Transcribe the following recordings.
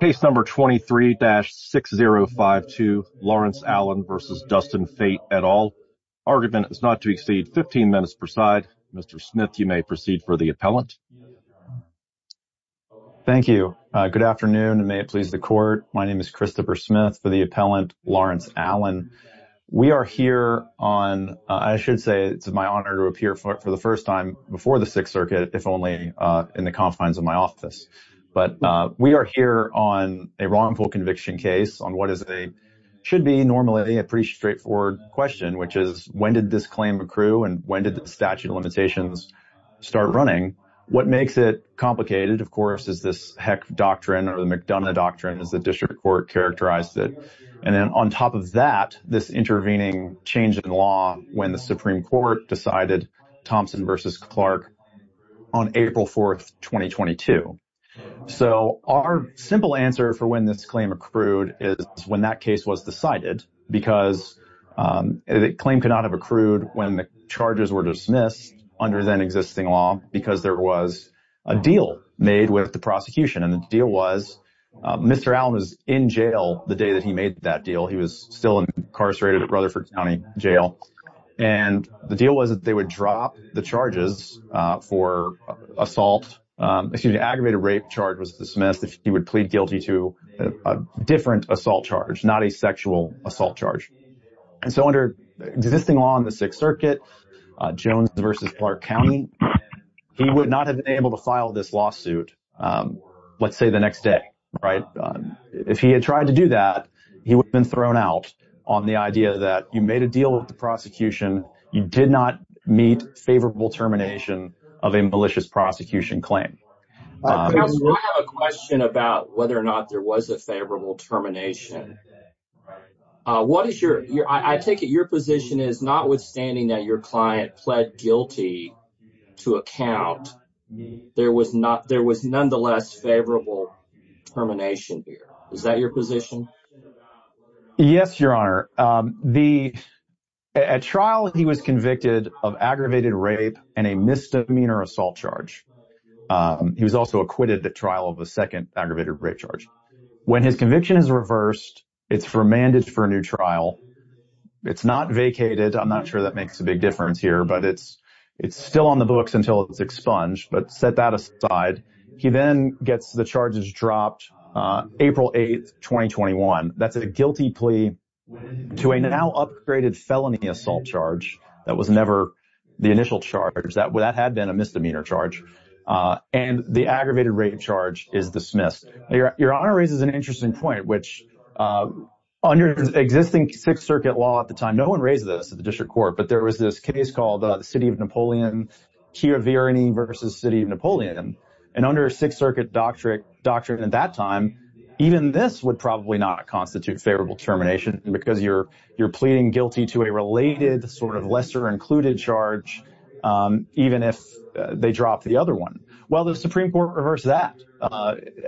Case No. 23-6052, Lawrence Allen v. Dustin Fait et al. Argument is not to exceed 15 minutes per side. Mr. Smith, you may proceed for the appellant. Thank you. Good afternoon, and may it please the Court. My name is Christopher Smith for the appellant, Lawrence Allen. We are here on, I should say it's my honor to appear for the first time before the Sixth Circuit, if only in the confines of my office. But we are here on a wrongful conviction case on what should be normally a pretty straightforward question, which is when did this claim accrue and when did the statute of limitations start running? What makes it complicated, of course, is this Heck Doctrine or the McDonough Doctrine, as the District Court characterized it. And then on top of that, this intervening change in law when the Supreme Court decided Thompson v. Clark on April 4, 2022. So our simple answer for when this claim accrued is when that case was decided, because the claim could not have accrued when the charges were dismissed under then-existing law because there was a deal made with the prosecution. And the deal was Mr. Allen was in jail the day that he made that deal. He was still incarcerated at Rutherford County Jail. And the deal was that they would drop the charges for assault. The aggravated rape charge was dismissed if he would plead guilty to a different assault charge, not a sexual assault charge. And so under existing law in the Sixth Circuit, Jones v. Clark County, he would not have been able to file this lawsuit, let's say, the next day. If he had tried to do that, he would have been thrown out on the idea that you made a deal with the prosecution. You did not meet favorable termination of a malicious prosecution claim. I have a question about whether or not there was a favorable termination. I take it your position is notwithstanding that your client pled guilty to a count, there was nonetheless favorable termination here. Is that your position? Yes, Your Honor. At trial, he was convicted of aggravated rape and a misdemeanor assault charge. He was also acquitted at trial of a second aggravated rape charge. When his conviction is reversed, it's remanded for a new trial. It's not vacated. I'm not sure that makes a big difference here. But it's still on the books until it's expunged. But set that aside. He then gets the charges dropped April 8, 2021. That's a guilty plea to a now upgraded felony assault charge that was never the initial charge. That had been a misdemeanor charge. And the aggravated rape charge is dismissed. Your Honor raises an interesting point, which under existing Sixth Circuit law at the time, no one raised this at the district court, but there was this case called the City of Napoleon, Chiaverini v. City of Napoleon. And under Sixth Circuit doctrine at that time, even this would probably not constitute favorable termination because you're pleading guilty to a related sort of lesser included charge, even if they drop the other one. Well, the Supreme Court reversed that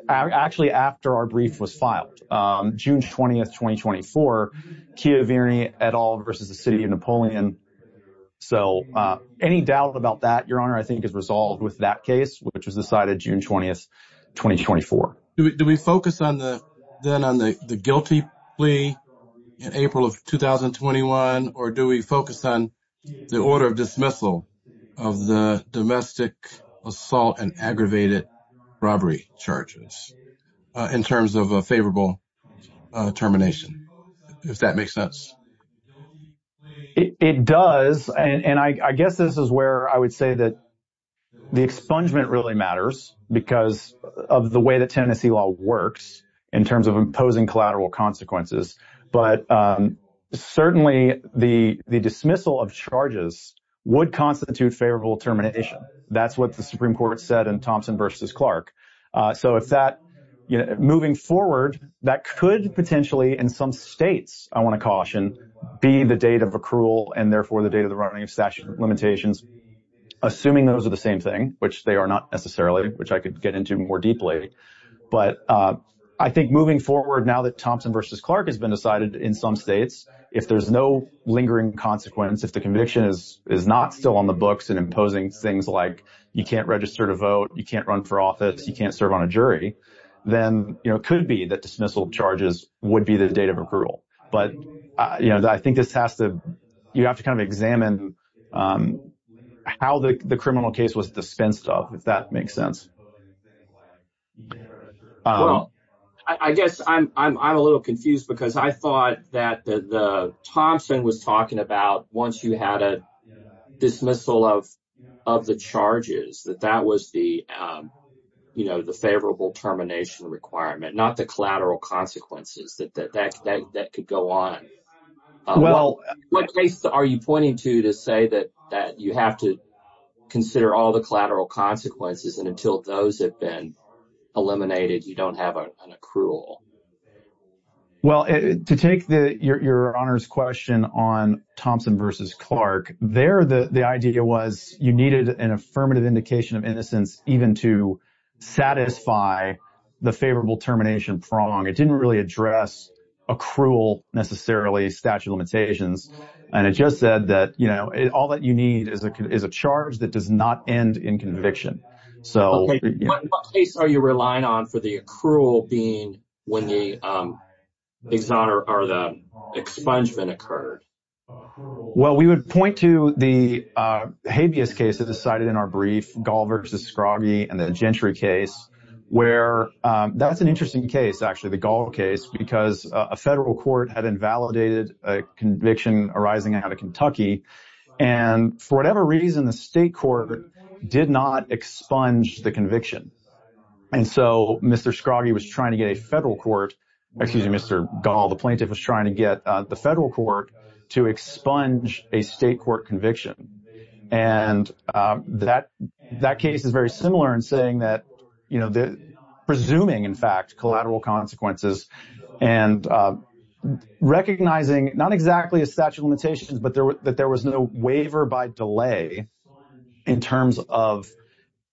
actually after our brief was filed. June 20, 2024, Chiaverini et al. v. City of Napoleon. So any doubt about that, Your Honor, I think is resolved with that case, which was decided June 20, 2024. Do we focus then on the guilty plea in April of 2021? Or do we focus on the order of dismissal of the domestic assault and aggravated robbery charges in terms of a favorable termination, if that makes sense? It does. And I guess this is where I would say that the expungement really matters because of the way the Tennessee law works in terms of imposing collateral consequences. But certainly the dismissal of charges would constitute favorable termination. That's what the Supreme Court said in Thompson v. Clark. So moving forward, that could potentially in some states, I want to caution, be the date of accrual and therefore the date of the running of statute of limitations, assuming those are the same thing, which they are not necessarily, which I could get into more deeply. But I think moving forward now that Thompson v. Clark has been decided in some states, if there's no lingering consequence, if the conviction is not still on the books and imposing things like you can't register to vote, you can't run for office, you can't serve on a jury, then it could be that dismissal of charges would be the date of accrual. But I think you have to kind of examine how the criminal case was dispensed of, if that makes sense. I guess I'm a little confused because I thought that Thompson was talking about once you had a dismissal of the charges, that that was the favorable termination requirement, not the collateral consequences, that that could go on. Well, what case are you pointing to to say that you have to consider all the collateral consequences and until those have been eliminated, you don't have an accrual? Well, to take your honors question on Thompson v. Clark, there the idea was you needed an affirmative indication of innocence even to satisfy the favorable termination prong. It didn't really address accrual necessarily, statute of limitations, and it just said that all that you need is a charge that does not end in conviction. What case are you relying on for the accrual being when the expungement occurred? Well, we would point to the habeas case that was cited in our brief, Gall v. Scroggie and the Gentry case, where that's an interesting case actually. The Gall case, because a federal court had invalidated a conviction arising out of Kentucky, and for whatever reason the state court did not expunge the conviction. And so Mr. Scroggie was trying to get a federal court, excuse me, Mr. Gall, the plaintiff was trying to get the federal court to expunge a state court conviction. And that case is very similar in saying that presuming, in fact, collateral consequences and recognizing not exactly a statute of limitations, but that there was no waiver by delay in terms of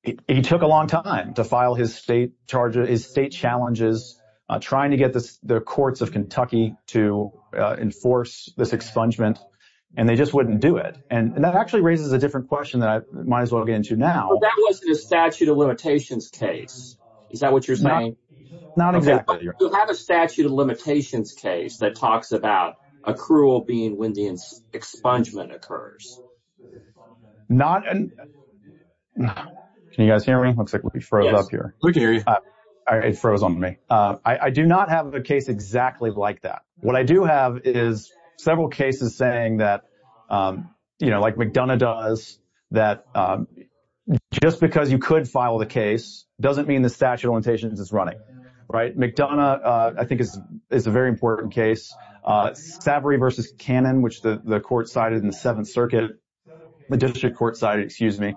it took a long time to file his state charges, his state challenges, trying to get the courts of Kentucky to enforce this expungement, and they just wouldn't do it. And that actually raises a different question that I might as well get into now. But that wasn't a statute of limitations case. Is that what you're saying? Not exactly. But you have a statute of limitations case that talks about accrual being when the expungement occurs. Not, can you guys hear me? Looks like we froze up here. Yes, we can hear you. It froze on me. I do not have a case exactly like that. What I do have is several cases saying that, you know, like McDonough does, that just because you could file the case doesn't mean the statute of limitations is running. McDonough, I think, is a very important case. Savory v. Cannon, which the court cited in the 7th Circuit, the district court cited, excuse me,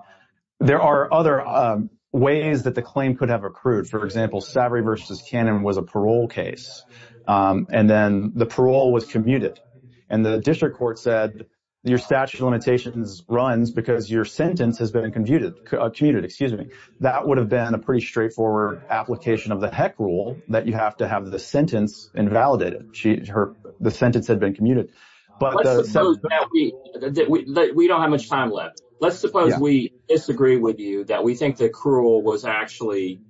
there are other ways that the claim could have accrued. For example, Savory v. Cannon was a parole case. And then the parole was commuted. And the district court said your statute of limitations runs because your sentence has been commuted. That would have been a pretty straightforward application of the heck rule that you have to have the sentence invalidated. The sentence had been commuted. Let's suppose that we don't have much time left. Let's suppose we disagree with you that we think the accrual was actually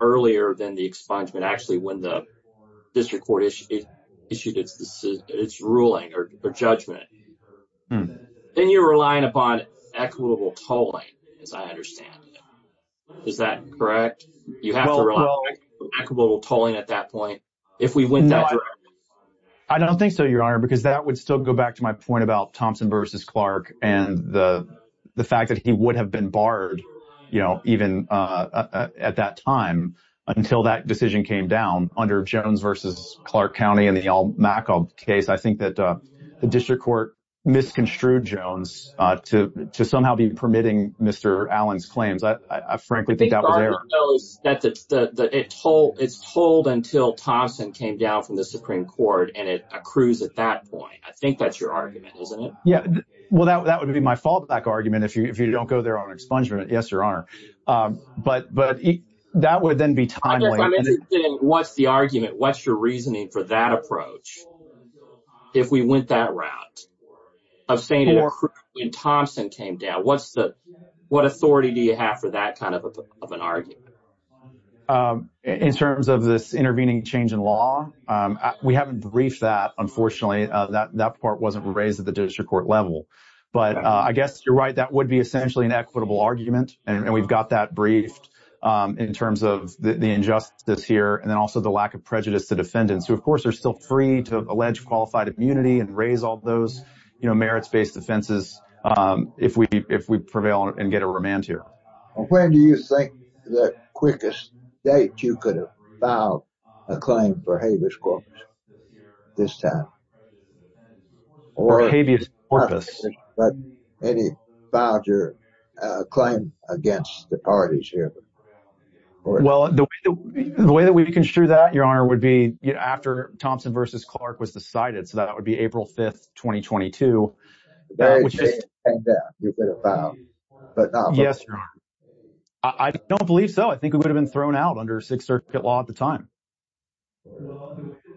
earlier than the expungement, actually, when the district court issued its ruling or judgment. Then you're relying upon equitable tolling, as I understand it. Is that correct? You have to rely on equitable tolling at that point if we went that direction? I don't think so, Your Honor, because that would still go back to my point about Thompson v. Clark and the fact that he would have been barred, you know, even at that time until that decision came down. Under Jones v. Clark County and the Al-Makal case, I think that the district court misconstrued Jones to somehow be permitting Mr. Allen's claims. I frankly think that was error. It's tolled until Thompson came down from the Supreme Court and it accrues at that point. I think that's your argument, isn't it? Yeah, well, that would be my fallback argument if you don't go there on expungement, yes, Your Honor. But that would then be timely. I'm interested in what's the argument, what's your reasoning for that approach if we went that route of saying when Thompson came down, what authority do you have for that kind of an argument? In terms of this intervening change in law, we haven't briefed that, unfortunately. That part wasn't raised at the district court level. But I guess you're right, that would be essentially an equitable argument, and we've got that briefed in terms of the injustice here and then also the lack of prejudice to defendants who, of course, are still free to allege qualified immunity and raise all those merits-based defenses if we prevail and get a remand here. When do you think the quickest date you could have filed a claim for habeas corpus this time? Or habeas corpus? But any voucher claim against the parties here? Well, the way that we construe that, Your Honor, would be after Thompson v. Clark was decided. So that would be April 5th, 2022. Yes, Your Honor. I don't believe so. I think it would have been thrown out under Sixth Circuit law at the time.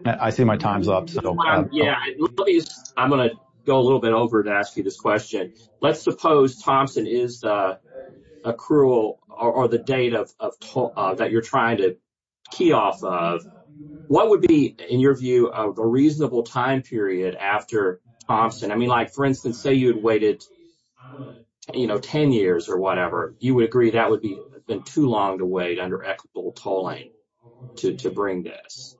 I see my time's up. I'm going to go a little bit over to ask you this question. Let's suppose Thompson is the accrual or the date that you're trying to key off of. What would be, in your view, a reasonable time period after Thompson? I mean, like, for instance, say you had waited, you know, 10 years or whatever. You would agree that would have been too long to wait under equitable tolling to bring this.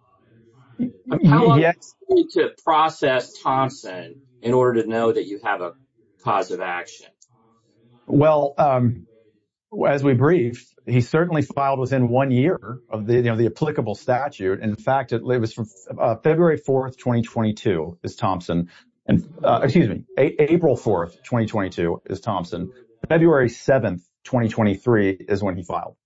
How long would it take to process Thompson in order to know that you have a cause of action? Well, as we briefed, he certainly filed within one year of the applicable statute. In fact, it was from February 4th, 2022, is Thompson. And excuse me, April 4th, 2022, is Thompson. February 7th, 2023, is when he filed.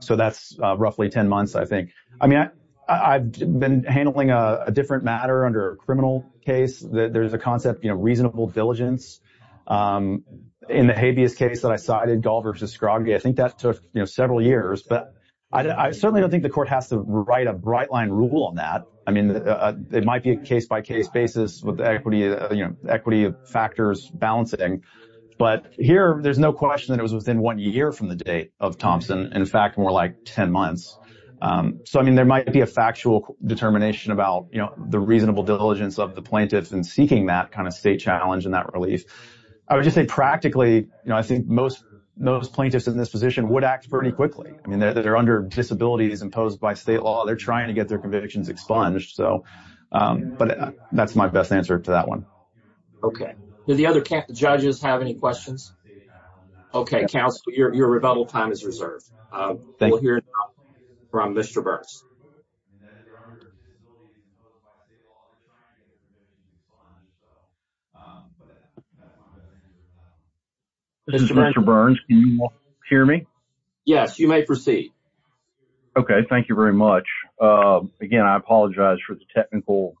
So that's roughly 10 months, I think. I mean, I've been handling a different matter under a criminal case. There's a concept, you know, reasonable diligence. In the habeas case that I cited, Gall v. Scroggie, I think that took, you know, several years. But I certainly don't think the court has to write a bright-line rule on that. I mean, it might be a case-by-case basis with equity factors balancing. But here, there's no question that it was within one year from the date of Thompson. In fact, more like 10 months. So, I mean, there might be a factual determination about, you know, the reasonable diligence of the plaintiffs in seeking that kind of state challenge and that relief. I would just say practically, you know, I think most plaintiffs in this position would act pretty quickly. I mean, they're under disabilities imposed by state law. They're trying to get their convictions expunged. But that's my best answer to that one. Okay. Do the other judges have any questions? Okay, counsel, your rebuttal time is reserved. We'll hear now from Mr. Burns. Mr. Burns, can you hear me? Yes, you may proceed. Okay, thank you very much. Again, I apologize for the technical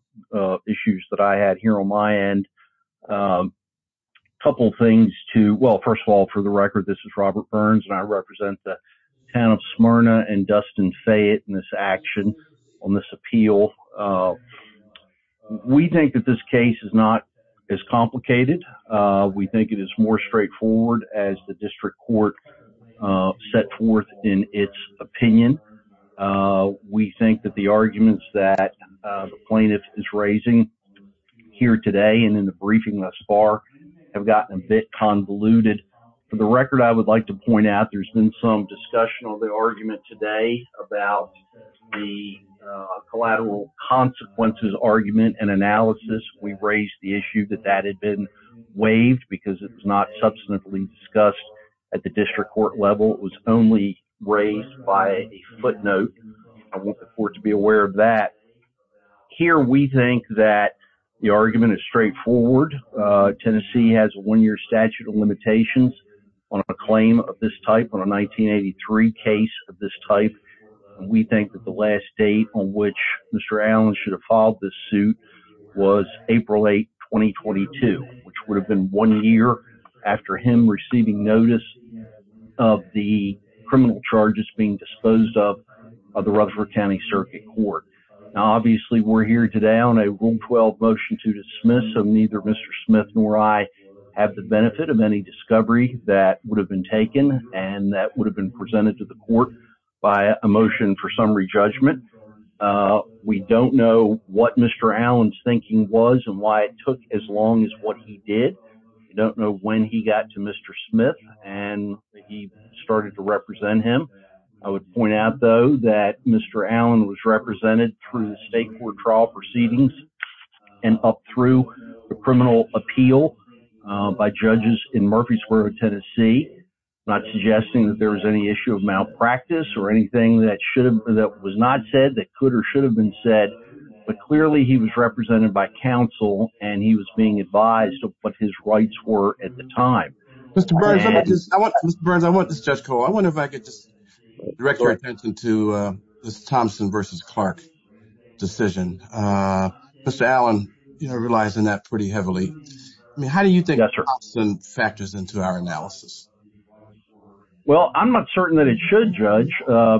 issues that I had here on my end. A couple of things to – well, first of all, for the record, this is Robert Burns, and I represent the town of Smyrna and Dustin Fayette in this action on this appeal. We think that this case is not as complicated. We think it is more straightforward as the district court set forth in its opinion. We think that the arguments that the plaintiff is raising here today and in the briefing thus far have gotten a bit convoluted. For the record, I would like to point out there's been some discussion on the argument today about the collateral consequences argument and analysis. We've raised the issue that that had been waived because it was not subsequently discussed at the district court level. It was only raised by a footnote. I want the court to be aware of that. Here we think that the argument is straightforward. Tennessee has a one-year statute of limitations on a claim of this type, on a 1983 case of this type. We think that the last date on which Mr. Allen should have filed this suit was April 8, 2022, which would have been one year after him receiving notice of the criminal charges being disposed of the Rutherford County Circuit Court. Now, obviously, we're here today on a Rule 12 motion to dismiss, so neither Mr. Smith nor I have the benefit of any discovery that would have been taken and that would have been presented to the court by a motion for summary judgment. We don't know what Mr. Allen's thinking was and why it took as long as what he did. We don't know when he got to Mr. Smith and he started to represent him. I would point out, though, that Mr. Allen was represented through the state court trial proceedings and up through the criminal appeal by judges in Murphy Square, Tennessee, not suggesting that there was any issue of malpractice or anything that was not said that could or should have been said, but clearly he was represented by counsel and he was being advised of what his rights were at the time. Mr. Burns, I want this, Judge Cole, I wonder if I could just direct your attention to this Thompson versus Clark decision. Mr. Allen relies on that pretty heavily. I mean, how do you think Thompson factors into our analysis? Well, I'm not certain that it should, Judge,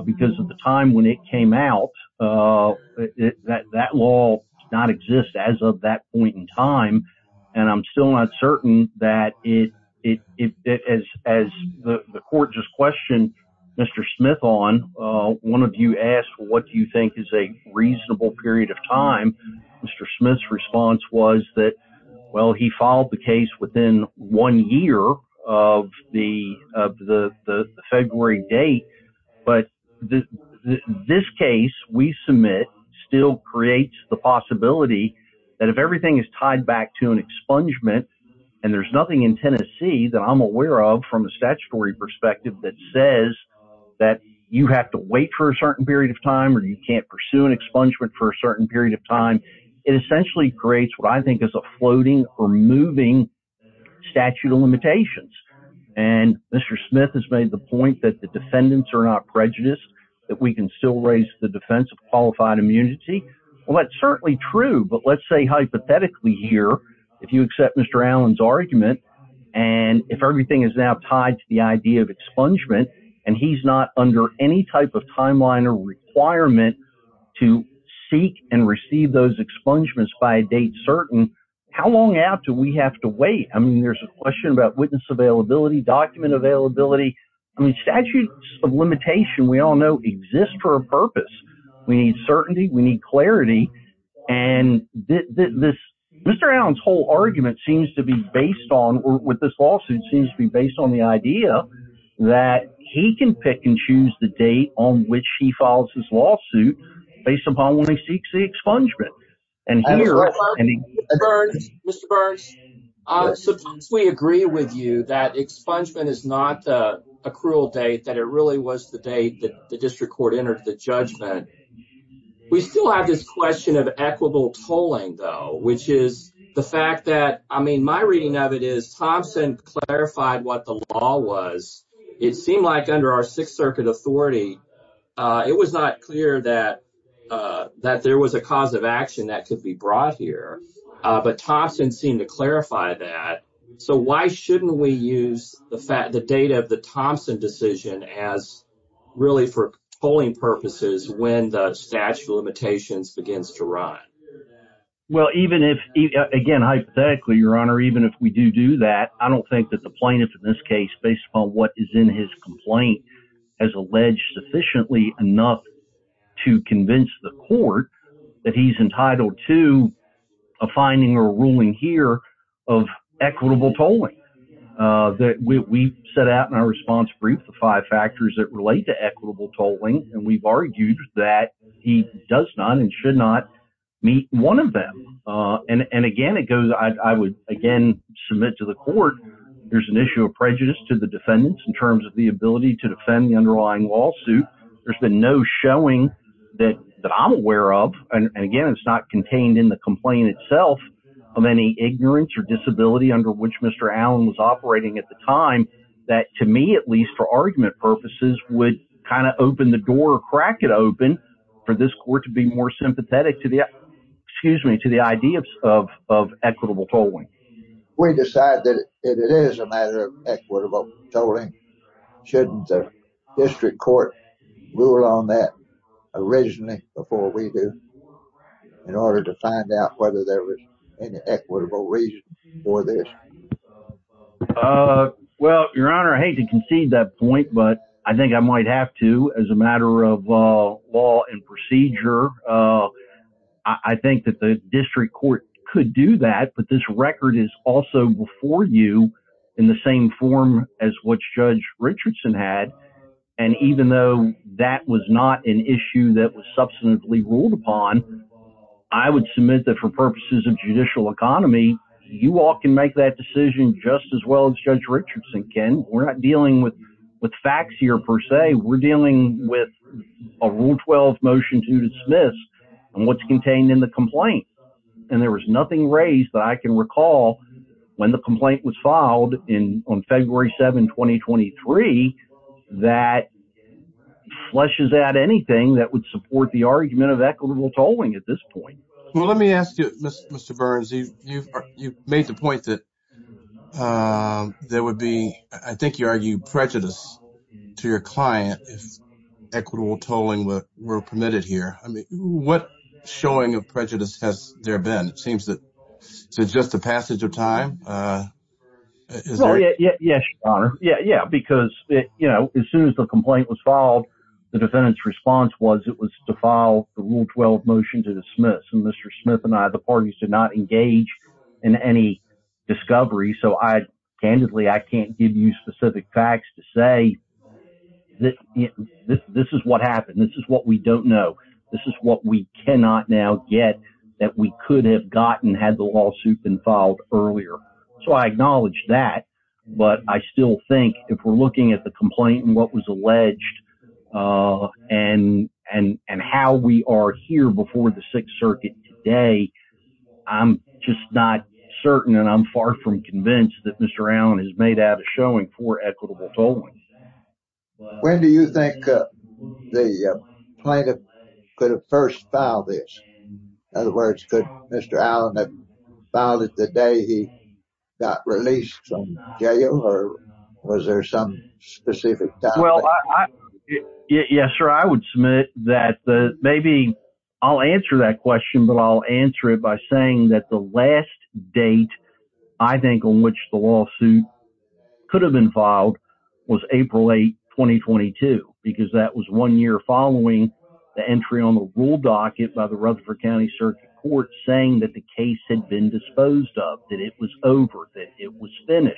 because at the time when it came out, that law did not exist as of that point in time, and I'm still not certain that as the court just questioned Mr. Smith on, one of you asked, well, what do you think is a reasonable period of time? Mr. Smith's response was that, well, he filed the case within one year of the February date. But this case we submit still creates the possibility that if everything is tied back to an expungement and there's nothing in Tennessee that I'm aware of from a statutory perspective that says that you have to wait for a certain period of time or you can't pursue an expungement for a certain period of time, it essentially creates what I think is a floating or moving statute of limitations. And Mr. Smith has made the point that the defendants are not prejudiced, that we can still raise the defense of qualified immunity. Well, that's certainly true, but let's say hypothetically here if you accept Mr. Allen's argument and if everything is now tied to the idea of expungement and he's not under any type of timeline or requirement to seek and receive those expungements by a date certain, how long after do we have to wait? I mean, there's a question about witness availability, document availability. I mean, statutes of limitation we all know exist for a purpose. We need certainty. We need clarity. And this Mr. Allen's whole argument seems to be based on with this lawsuit seems to be based on the idea that he can pick and choose the date on which he files his lawsuit based upon when he seeks the expungement. Mr. Burns, sometimes we agree with you that expungement is not a cruel date, that it really was the date that the district court entered the judgment. We still have this question of equitable tolling, though, which is the fact that I mean, my reading of it is Thompson clarified what the law was. It seemed like under our Sixth Circuit authority, it was not clear that that there was a cause of action that could be brought here. But Thompson seemed to clarify that. So why shouldn't we use the fact the date of the Thompson decision as really for polling purposes when the statute of limitations begins to run? Well, even if again, hypothetically, Your Honor, even if we do do that, I don't think that the plaintiff in this case, based upon what is in his complaint, has alleged sufficiently enough to convince the court that he's entitled to a finding or ruling here of equitable tolling. We set out in our response brief the five factors that relate to equitable tolling, and we've argued that he does not and should not meet one of them. And again, it goes, I would again submit to the court, there's an issue of prejudice to the defendants in terms of the ability to defend the underlying lawsuit. There's been no showing that that I'm aware of. And again, it's not contained in the complaint itself of any ignorance or disability under which Mr. Allen was operating at the time that to me, at least for argument purposes, would kind of open the door, crack it open for this court to be more sympathetic to the excuse me, to the idea of equitable tolling. We decide that it is a matter of equitable tolling. Shouldn't the district court rule on that originally before we do in order to find out whether there was any equitable reason for this? Well, Your Honor, I hate to concede that point, but I think I might have to as a matter of law and procedure. I think that the district court could do that. But this record is also before you in the same form as what Judge Richardson had. And even though that was not an issue that was substantively ruled upon, I would submit that for purposes of judicial economy, you all can make that decision just as well as Judge Richardson can. We're not dealing with facts here per se. We're dealing with a rule 12 motion to dismiss what's contained in the complaint. And there was nothing raised that I can recall when the complaint was filed in on February 7, 2023, that flushes out anything that would support the argument of equitable tolling at this point. Well, let me ask you, Mr. Burns, you've made the point that there would be, I think you argue, prejudice to your client if equitable tolling were permitted here. I mean, what showing of prejudice has there been? It seems that it's just a passage of time. Yes. Yeah, yeah. Because, you know, as soon as the complaint was filed, the defendant's response was it was to file the rule 12 motion to dismiss. And Mr. Smith and I, the parties did not engage in any discovery. So I candidly I can't give you specific facts to say that this is what happened. This is what we don't know. This is what we cannot now get that we could have gotten had the lawsuit been filed earlier. So I acknowledge that. But I still think if we're looking at the complaint and what was alleged and and and how we are here before the Sixth Circuit today, I'm just not certain. And I'm far from convinced that Mr. Allen has made out a showing for equitable tolling. When do you think the plaintiff could have first filed this? In other words, could Mr. Allen have filed it the day he got released from jail or was there some specific? Well, yes, sir. I would submit that maybe I'll answer that question, but I'll answer it by saying that the last date I think on which the lawsuit could have been filed was April 8, 2022, because that was one year following the entry on the rule docket by the Rutherford County Circuit Court, saying that the case had been disposed of, that it was over, that it was finished.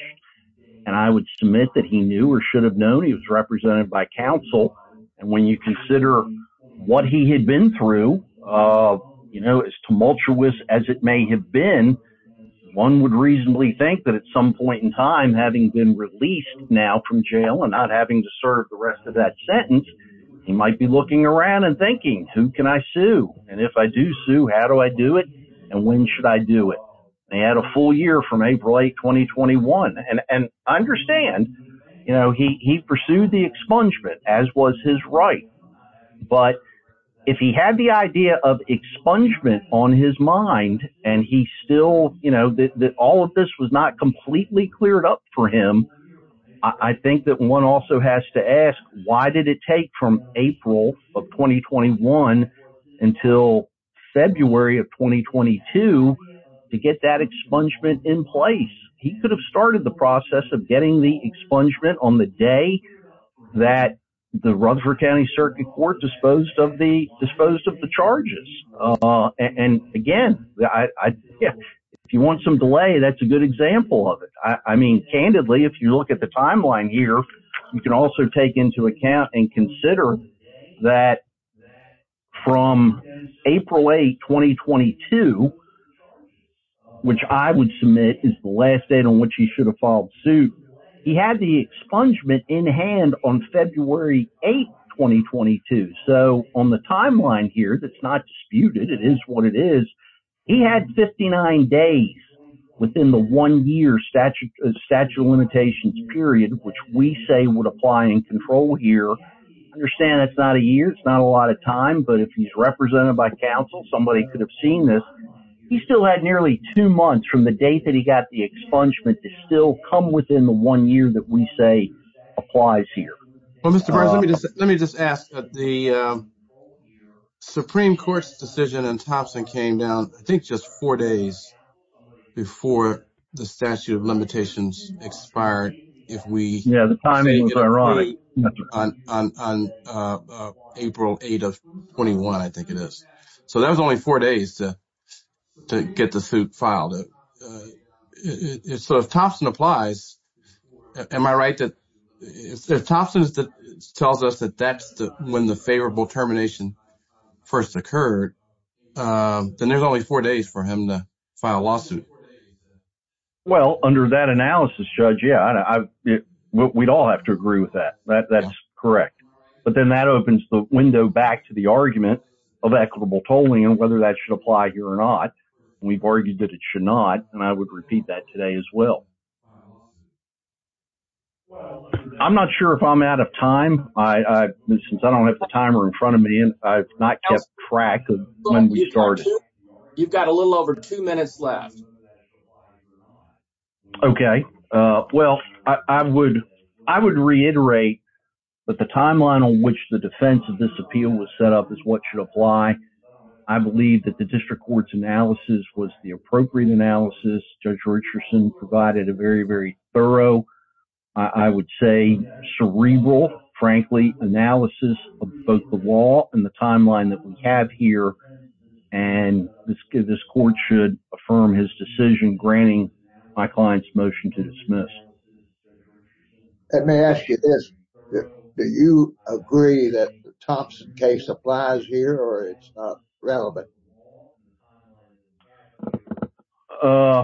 And I would submit that he knew or should have known he was represented by counsel. And when you consider what he had been through, you know, as tumultuous as it may have been, one would reasonably think that at some point in time, having been released now from jail and not having to serve the rest of that sentence, he might be looking around and thinking, who can I sue? And if I do sue, how do I do it? And when should I do it? They had a full year from April 8, 2021. And I understand, you know, he pursued the expungement as was his right. But if he had the idea of expungement on his mind and he still, you know, that all of this was not completely cleared up for him, I think that one also has to ask, why did it take from April of 2021 until February of 2022 to get that expungement in place? He could have started the process of getting the expungement on the day that the Rutherford County Circuit Court disposed of the charges. And again, if you want some delay, that's a good example of it. I mean, candidly, if you look at the timeline here, you can also take into account and consider that from April 8, 2022, which I would submit is the last date on which he should have filed suit. He had the expungement in hand on February 8, 2022. So on the timeline here, that's not disputed. It is what it is. He had 59 days within the one year statute of limitations period, which we say would apply in control here. Understand it's not a year. It's not a lot of time. But if he's represented by counsel, somebody could have seen this. He still had nearly two months from the date that he got the expungement to still come within the one year that we say applies here. Well, Mr. President, let me just ask that the Supreme Court's decision and Thompson came down, I think, just four days before the statute of limitations expired. If we have the timing, ironic on April 8 of 21, I think it is. So that was only four days to get the suit filed. So if Thompson applies. Am I right? If Thompson tells us that that's when the favorable termination first occurred, then there's only four days for him to file a lawsuit. Well, under that analysis, Judge, yeah, we'd all have to agree with that. That's correct. But then that opens the window back to the argument of equitable tolling and whether that should apply here or not. We've argued that it should not. And I would repeat that today as well. Well, I'm not sure if I'm out of time. I since I don't have the timer in front of me and I've not kept track of when we started. You've got a little over two minutes left. OK, well, I would I would reiterate that the timeline on which the defense of this appeal was set up is what should apply. I believe that the district court's analysis was the appropriate analysis. Judge Richardson provided a very, very thorough, I would say, cerebral, frankly, analysis of both the law and the timeline that we have here. And this court should affirm his decision, granting my client's motion to dismiss. Let me ask you this. Do you agree that the Thompson case applies here or it's relevant? Oh,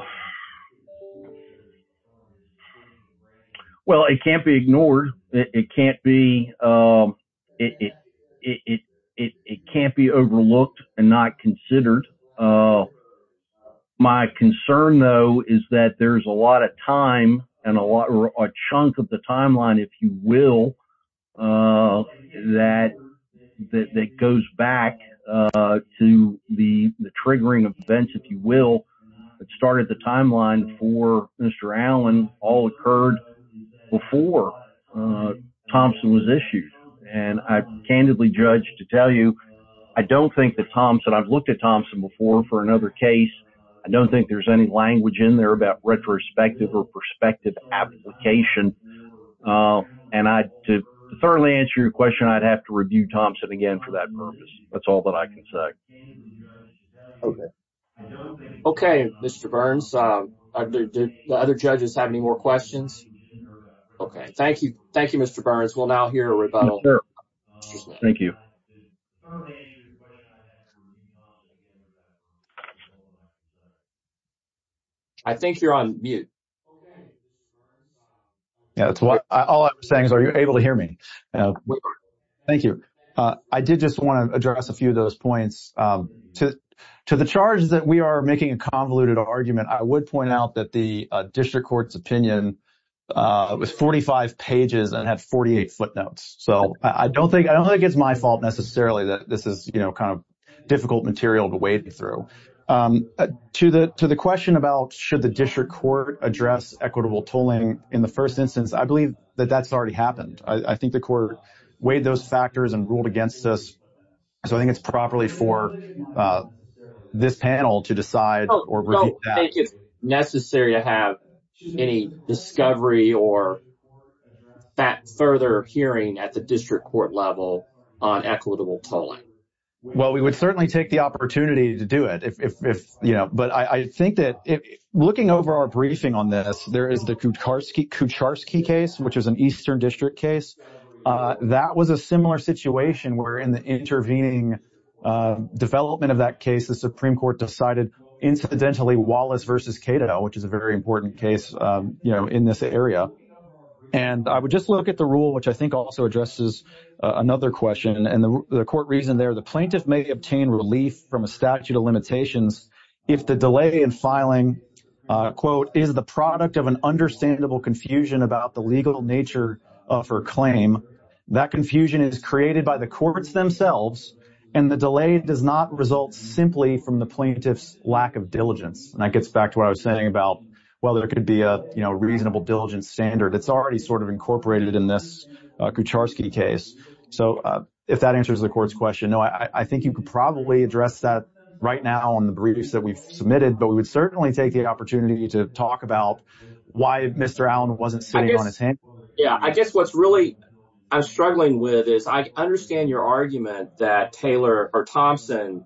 well, it can't be ignored. It can't be it. It can't be overlooked and not considered. My concern, though, is that there's a lot of time and a lot or a chunk of the timeline, if you will, that that goes back to the triggering of events, if you will. It started the timeline for Mr. Allen. All occurred before Thompson was issued. And I candidly judge to tell you, I don't think that Thompson I've looked at Thompson before for another case. I don't think there's any language in there about retrospective or perspective application. And I to thoroughly answer your question, I'd have to review Thompson again for that purpose. That's all that I can say. OK, Mr. Burns, the other judges have any more questions. OK, thank you. Thank you, Mr. Burns. We'll now hear a rebuttal. Thank you. I think you're on mute. That's all I'm saying is, are you able to hear me? Thank you. I did just want to address a few of those points to to the charges that we are making a convoluted argument. I would point out that the district court's opinion was 45 pages and had 48 footnotes. So I don't think I don't think it's my fault necessarily that this is, you know, kind of difficult material to wade through to the to the question about should the district court address equitable tooling in the first instance. I believe that that's already happened. I think the court weighed those factors and ruled against us. So I think it's properly for this panel to decide or. Thank you. Necessary to have any discovery or that further hearing at the district court level on equitable polling. Well, we would certainly take the opportunity to do it if, you know, but I think that looking over our briefing on this, there is the Kutarsky Kucharsky case, which is an eastern district case. That was a similar situation where in the intervening development of that case, the Supreme Court decided incidentally Wallace versus Cato, which is a very important case in this area. And I would just look at the rule, which I think also addresses another question. And the court reason there, the plaintiff may obtain relief from a statute of limitations if the delay in filing, quote, is the product of an understandable confusion about the legal nature of her claim. That confusion is created by the courts themselves. And the delay does not result simply from the plaintiff's lack of diligence. And that gets back to what I was saying about, well, there could be a reasonable diligence standard. It's already sort of incorporated in this Kucharsky case. So if that answers the court's question, no, I think you could probably address that right now on the briefs that we've submitted. But we would certainly take the opportunity to talk about why Mr. Allen wasn't sitting on his hand. Yeah, I guess what's really I'm struggling with is I understand your argument that Taylor or Thompson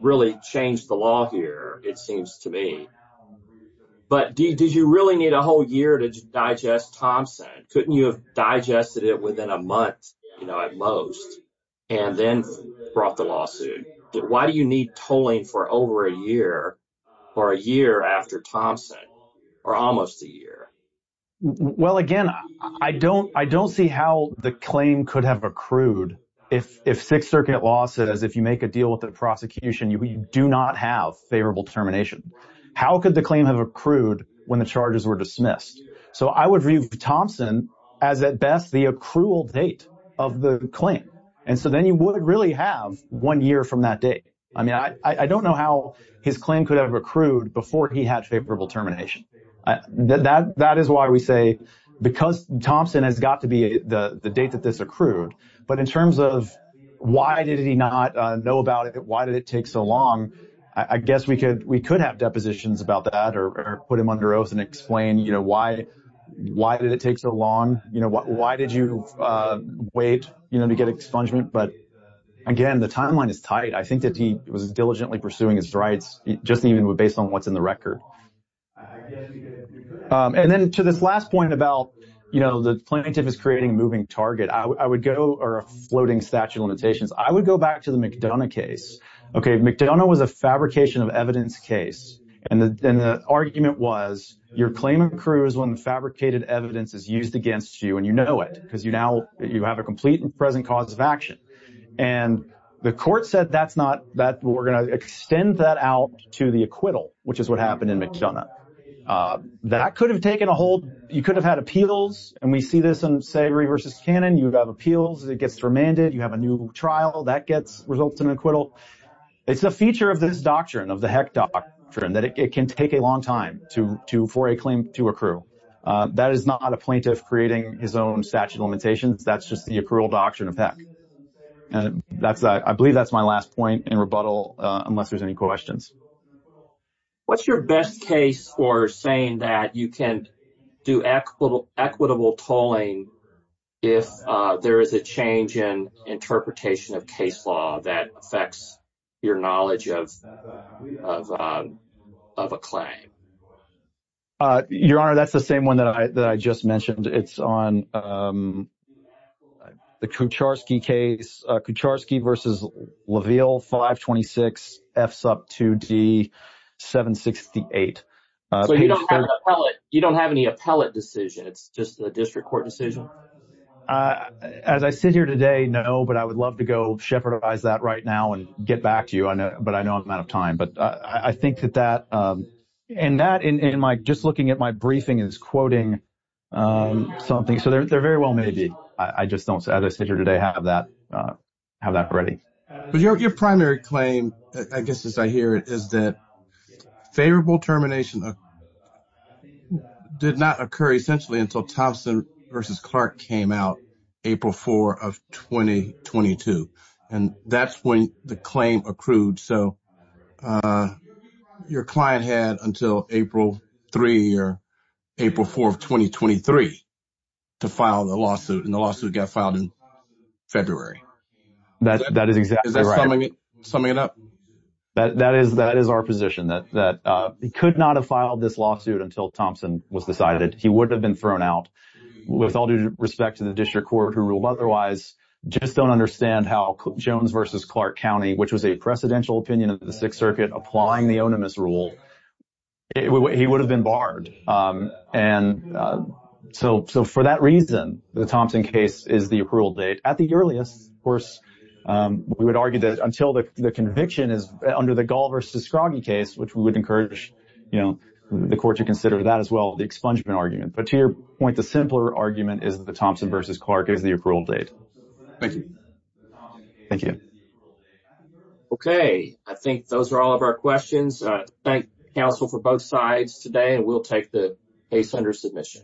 really changed the law here, it seems to me. But did you really need a whole year to digest Thompson? Couldn't you have digested it within a month at most and then brought the lawsuit? Why do you need tolling for over a year or a year after Thompson or almost a year? Well, again, I don't I don't see how the claim could have accrued if Sixth Circuit law says if you make a deal with the prosecution, you do not have favorable termination. How could the claim have accrued when the charges were dismissed? So I would read Thompson as at best the accrual date of the claim. And so then you would really have one year from that day. I mean, I don't know how his claim could have accrued before he had favorable termination. That is why we say because Thompson has got to be the date that this accrued. But in terms of why did he not know about it? Why did it take so long? I guess we could we could have depositions about that or put him under oath and explain, you know, why, why did it take so long? You know, why did you wait to get expungement? But again, the timeline is tight. I think that he was diligently pursuing his rights just even based on what's in the record. And then to this last point about, you know, the plaintiff is creating a moving target. I would go or a floating statute of limitations. I would go back to the McDonough case. Okay. McDonough was a fabrication of evidence case. And then the argument was your claim accrues when fabricated evidence is used against you. And you know it because you now you have a complete and present cause of action. And the court said that's not that we're going to extend that out to the acquittal, which is what happened in McDonough. That could have taken a hold. You could have had appeals. And we see this on Savory versus Cannon. You have appeals. It gets remanded. You have a new trial. That gets results in acquittal. It's a feature of this doctrine, of the Heck doctrine, that it can take a long time for a claim to accrue. That is not a plaintiff creating his own statute of limitations. That's just the accrual doctrine of Heck. I believe that's my last point in rebuttal unless there's any questions. What's your best case for saying that you can do equitable tolling if there is a change in interpretation of case law that affects your knowledge of a claim? Your Honor, that's the same one that I just mentioned. It's on the Kucharski case. Kucharski versus LaVille 526F2D768. So you don't have an appellate decision. It's just a district court decision? As I sit here today, no, but I would love to go shepherd that right now and get back to you. But I know I'm out of time. But I think that that and that in my just looking at my briefing is quoting something. So they're very well maybe. I just don't, as I sit here today, have that ready. But your primary claim, I guess as I hear it, is that favorable termination did not occur essentially until Thompson versus Clark came out April 4 of 2022. And that's when the claim accrued. So your client had until April 3 or April 4 of 2023 to file the lawsuit, and the lawsuit got filed in February. That is exactly right. Is that summing it up? That is our position, that he could not have filed this lawsuit until Thompson was decided. He would have been thrown out. With all due respect to the district court who ruled otherwise, just don't understand how Jones versus Clark County, which was a presidential opinion of the Sixth Circuit applying the onimus rule, he would have been barred. And so for that reason, the Thompson case is the approval date. At the earliest, of course, we would argue that until the conviction is under the Gull versus Scroggie case, which we would encourage the court to consider that as well, the expungement argument. But to your point, the simpler argument is that the Thompson versus Clark is the approval date. Thank you. Thank you. Okay. I think those are all of our questions. Thank you, counsel, for both sides today, and we'll take the case under submission.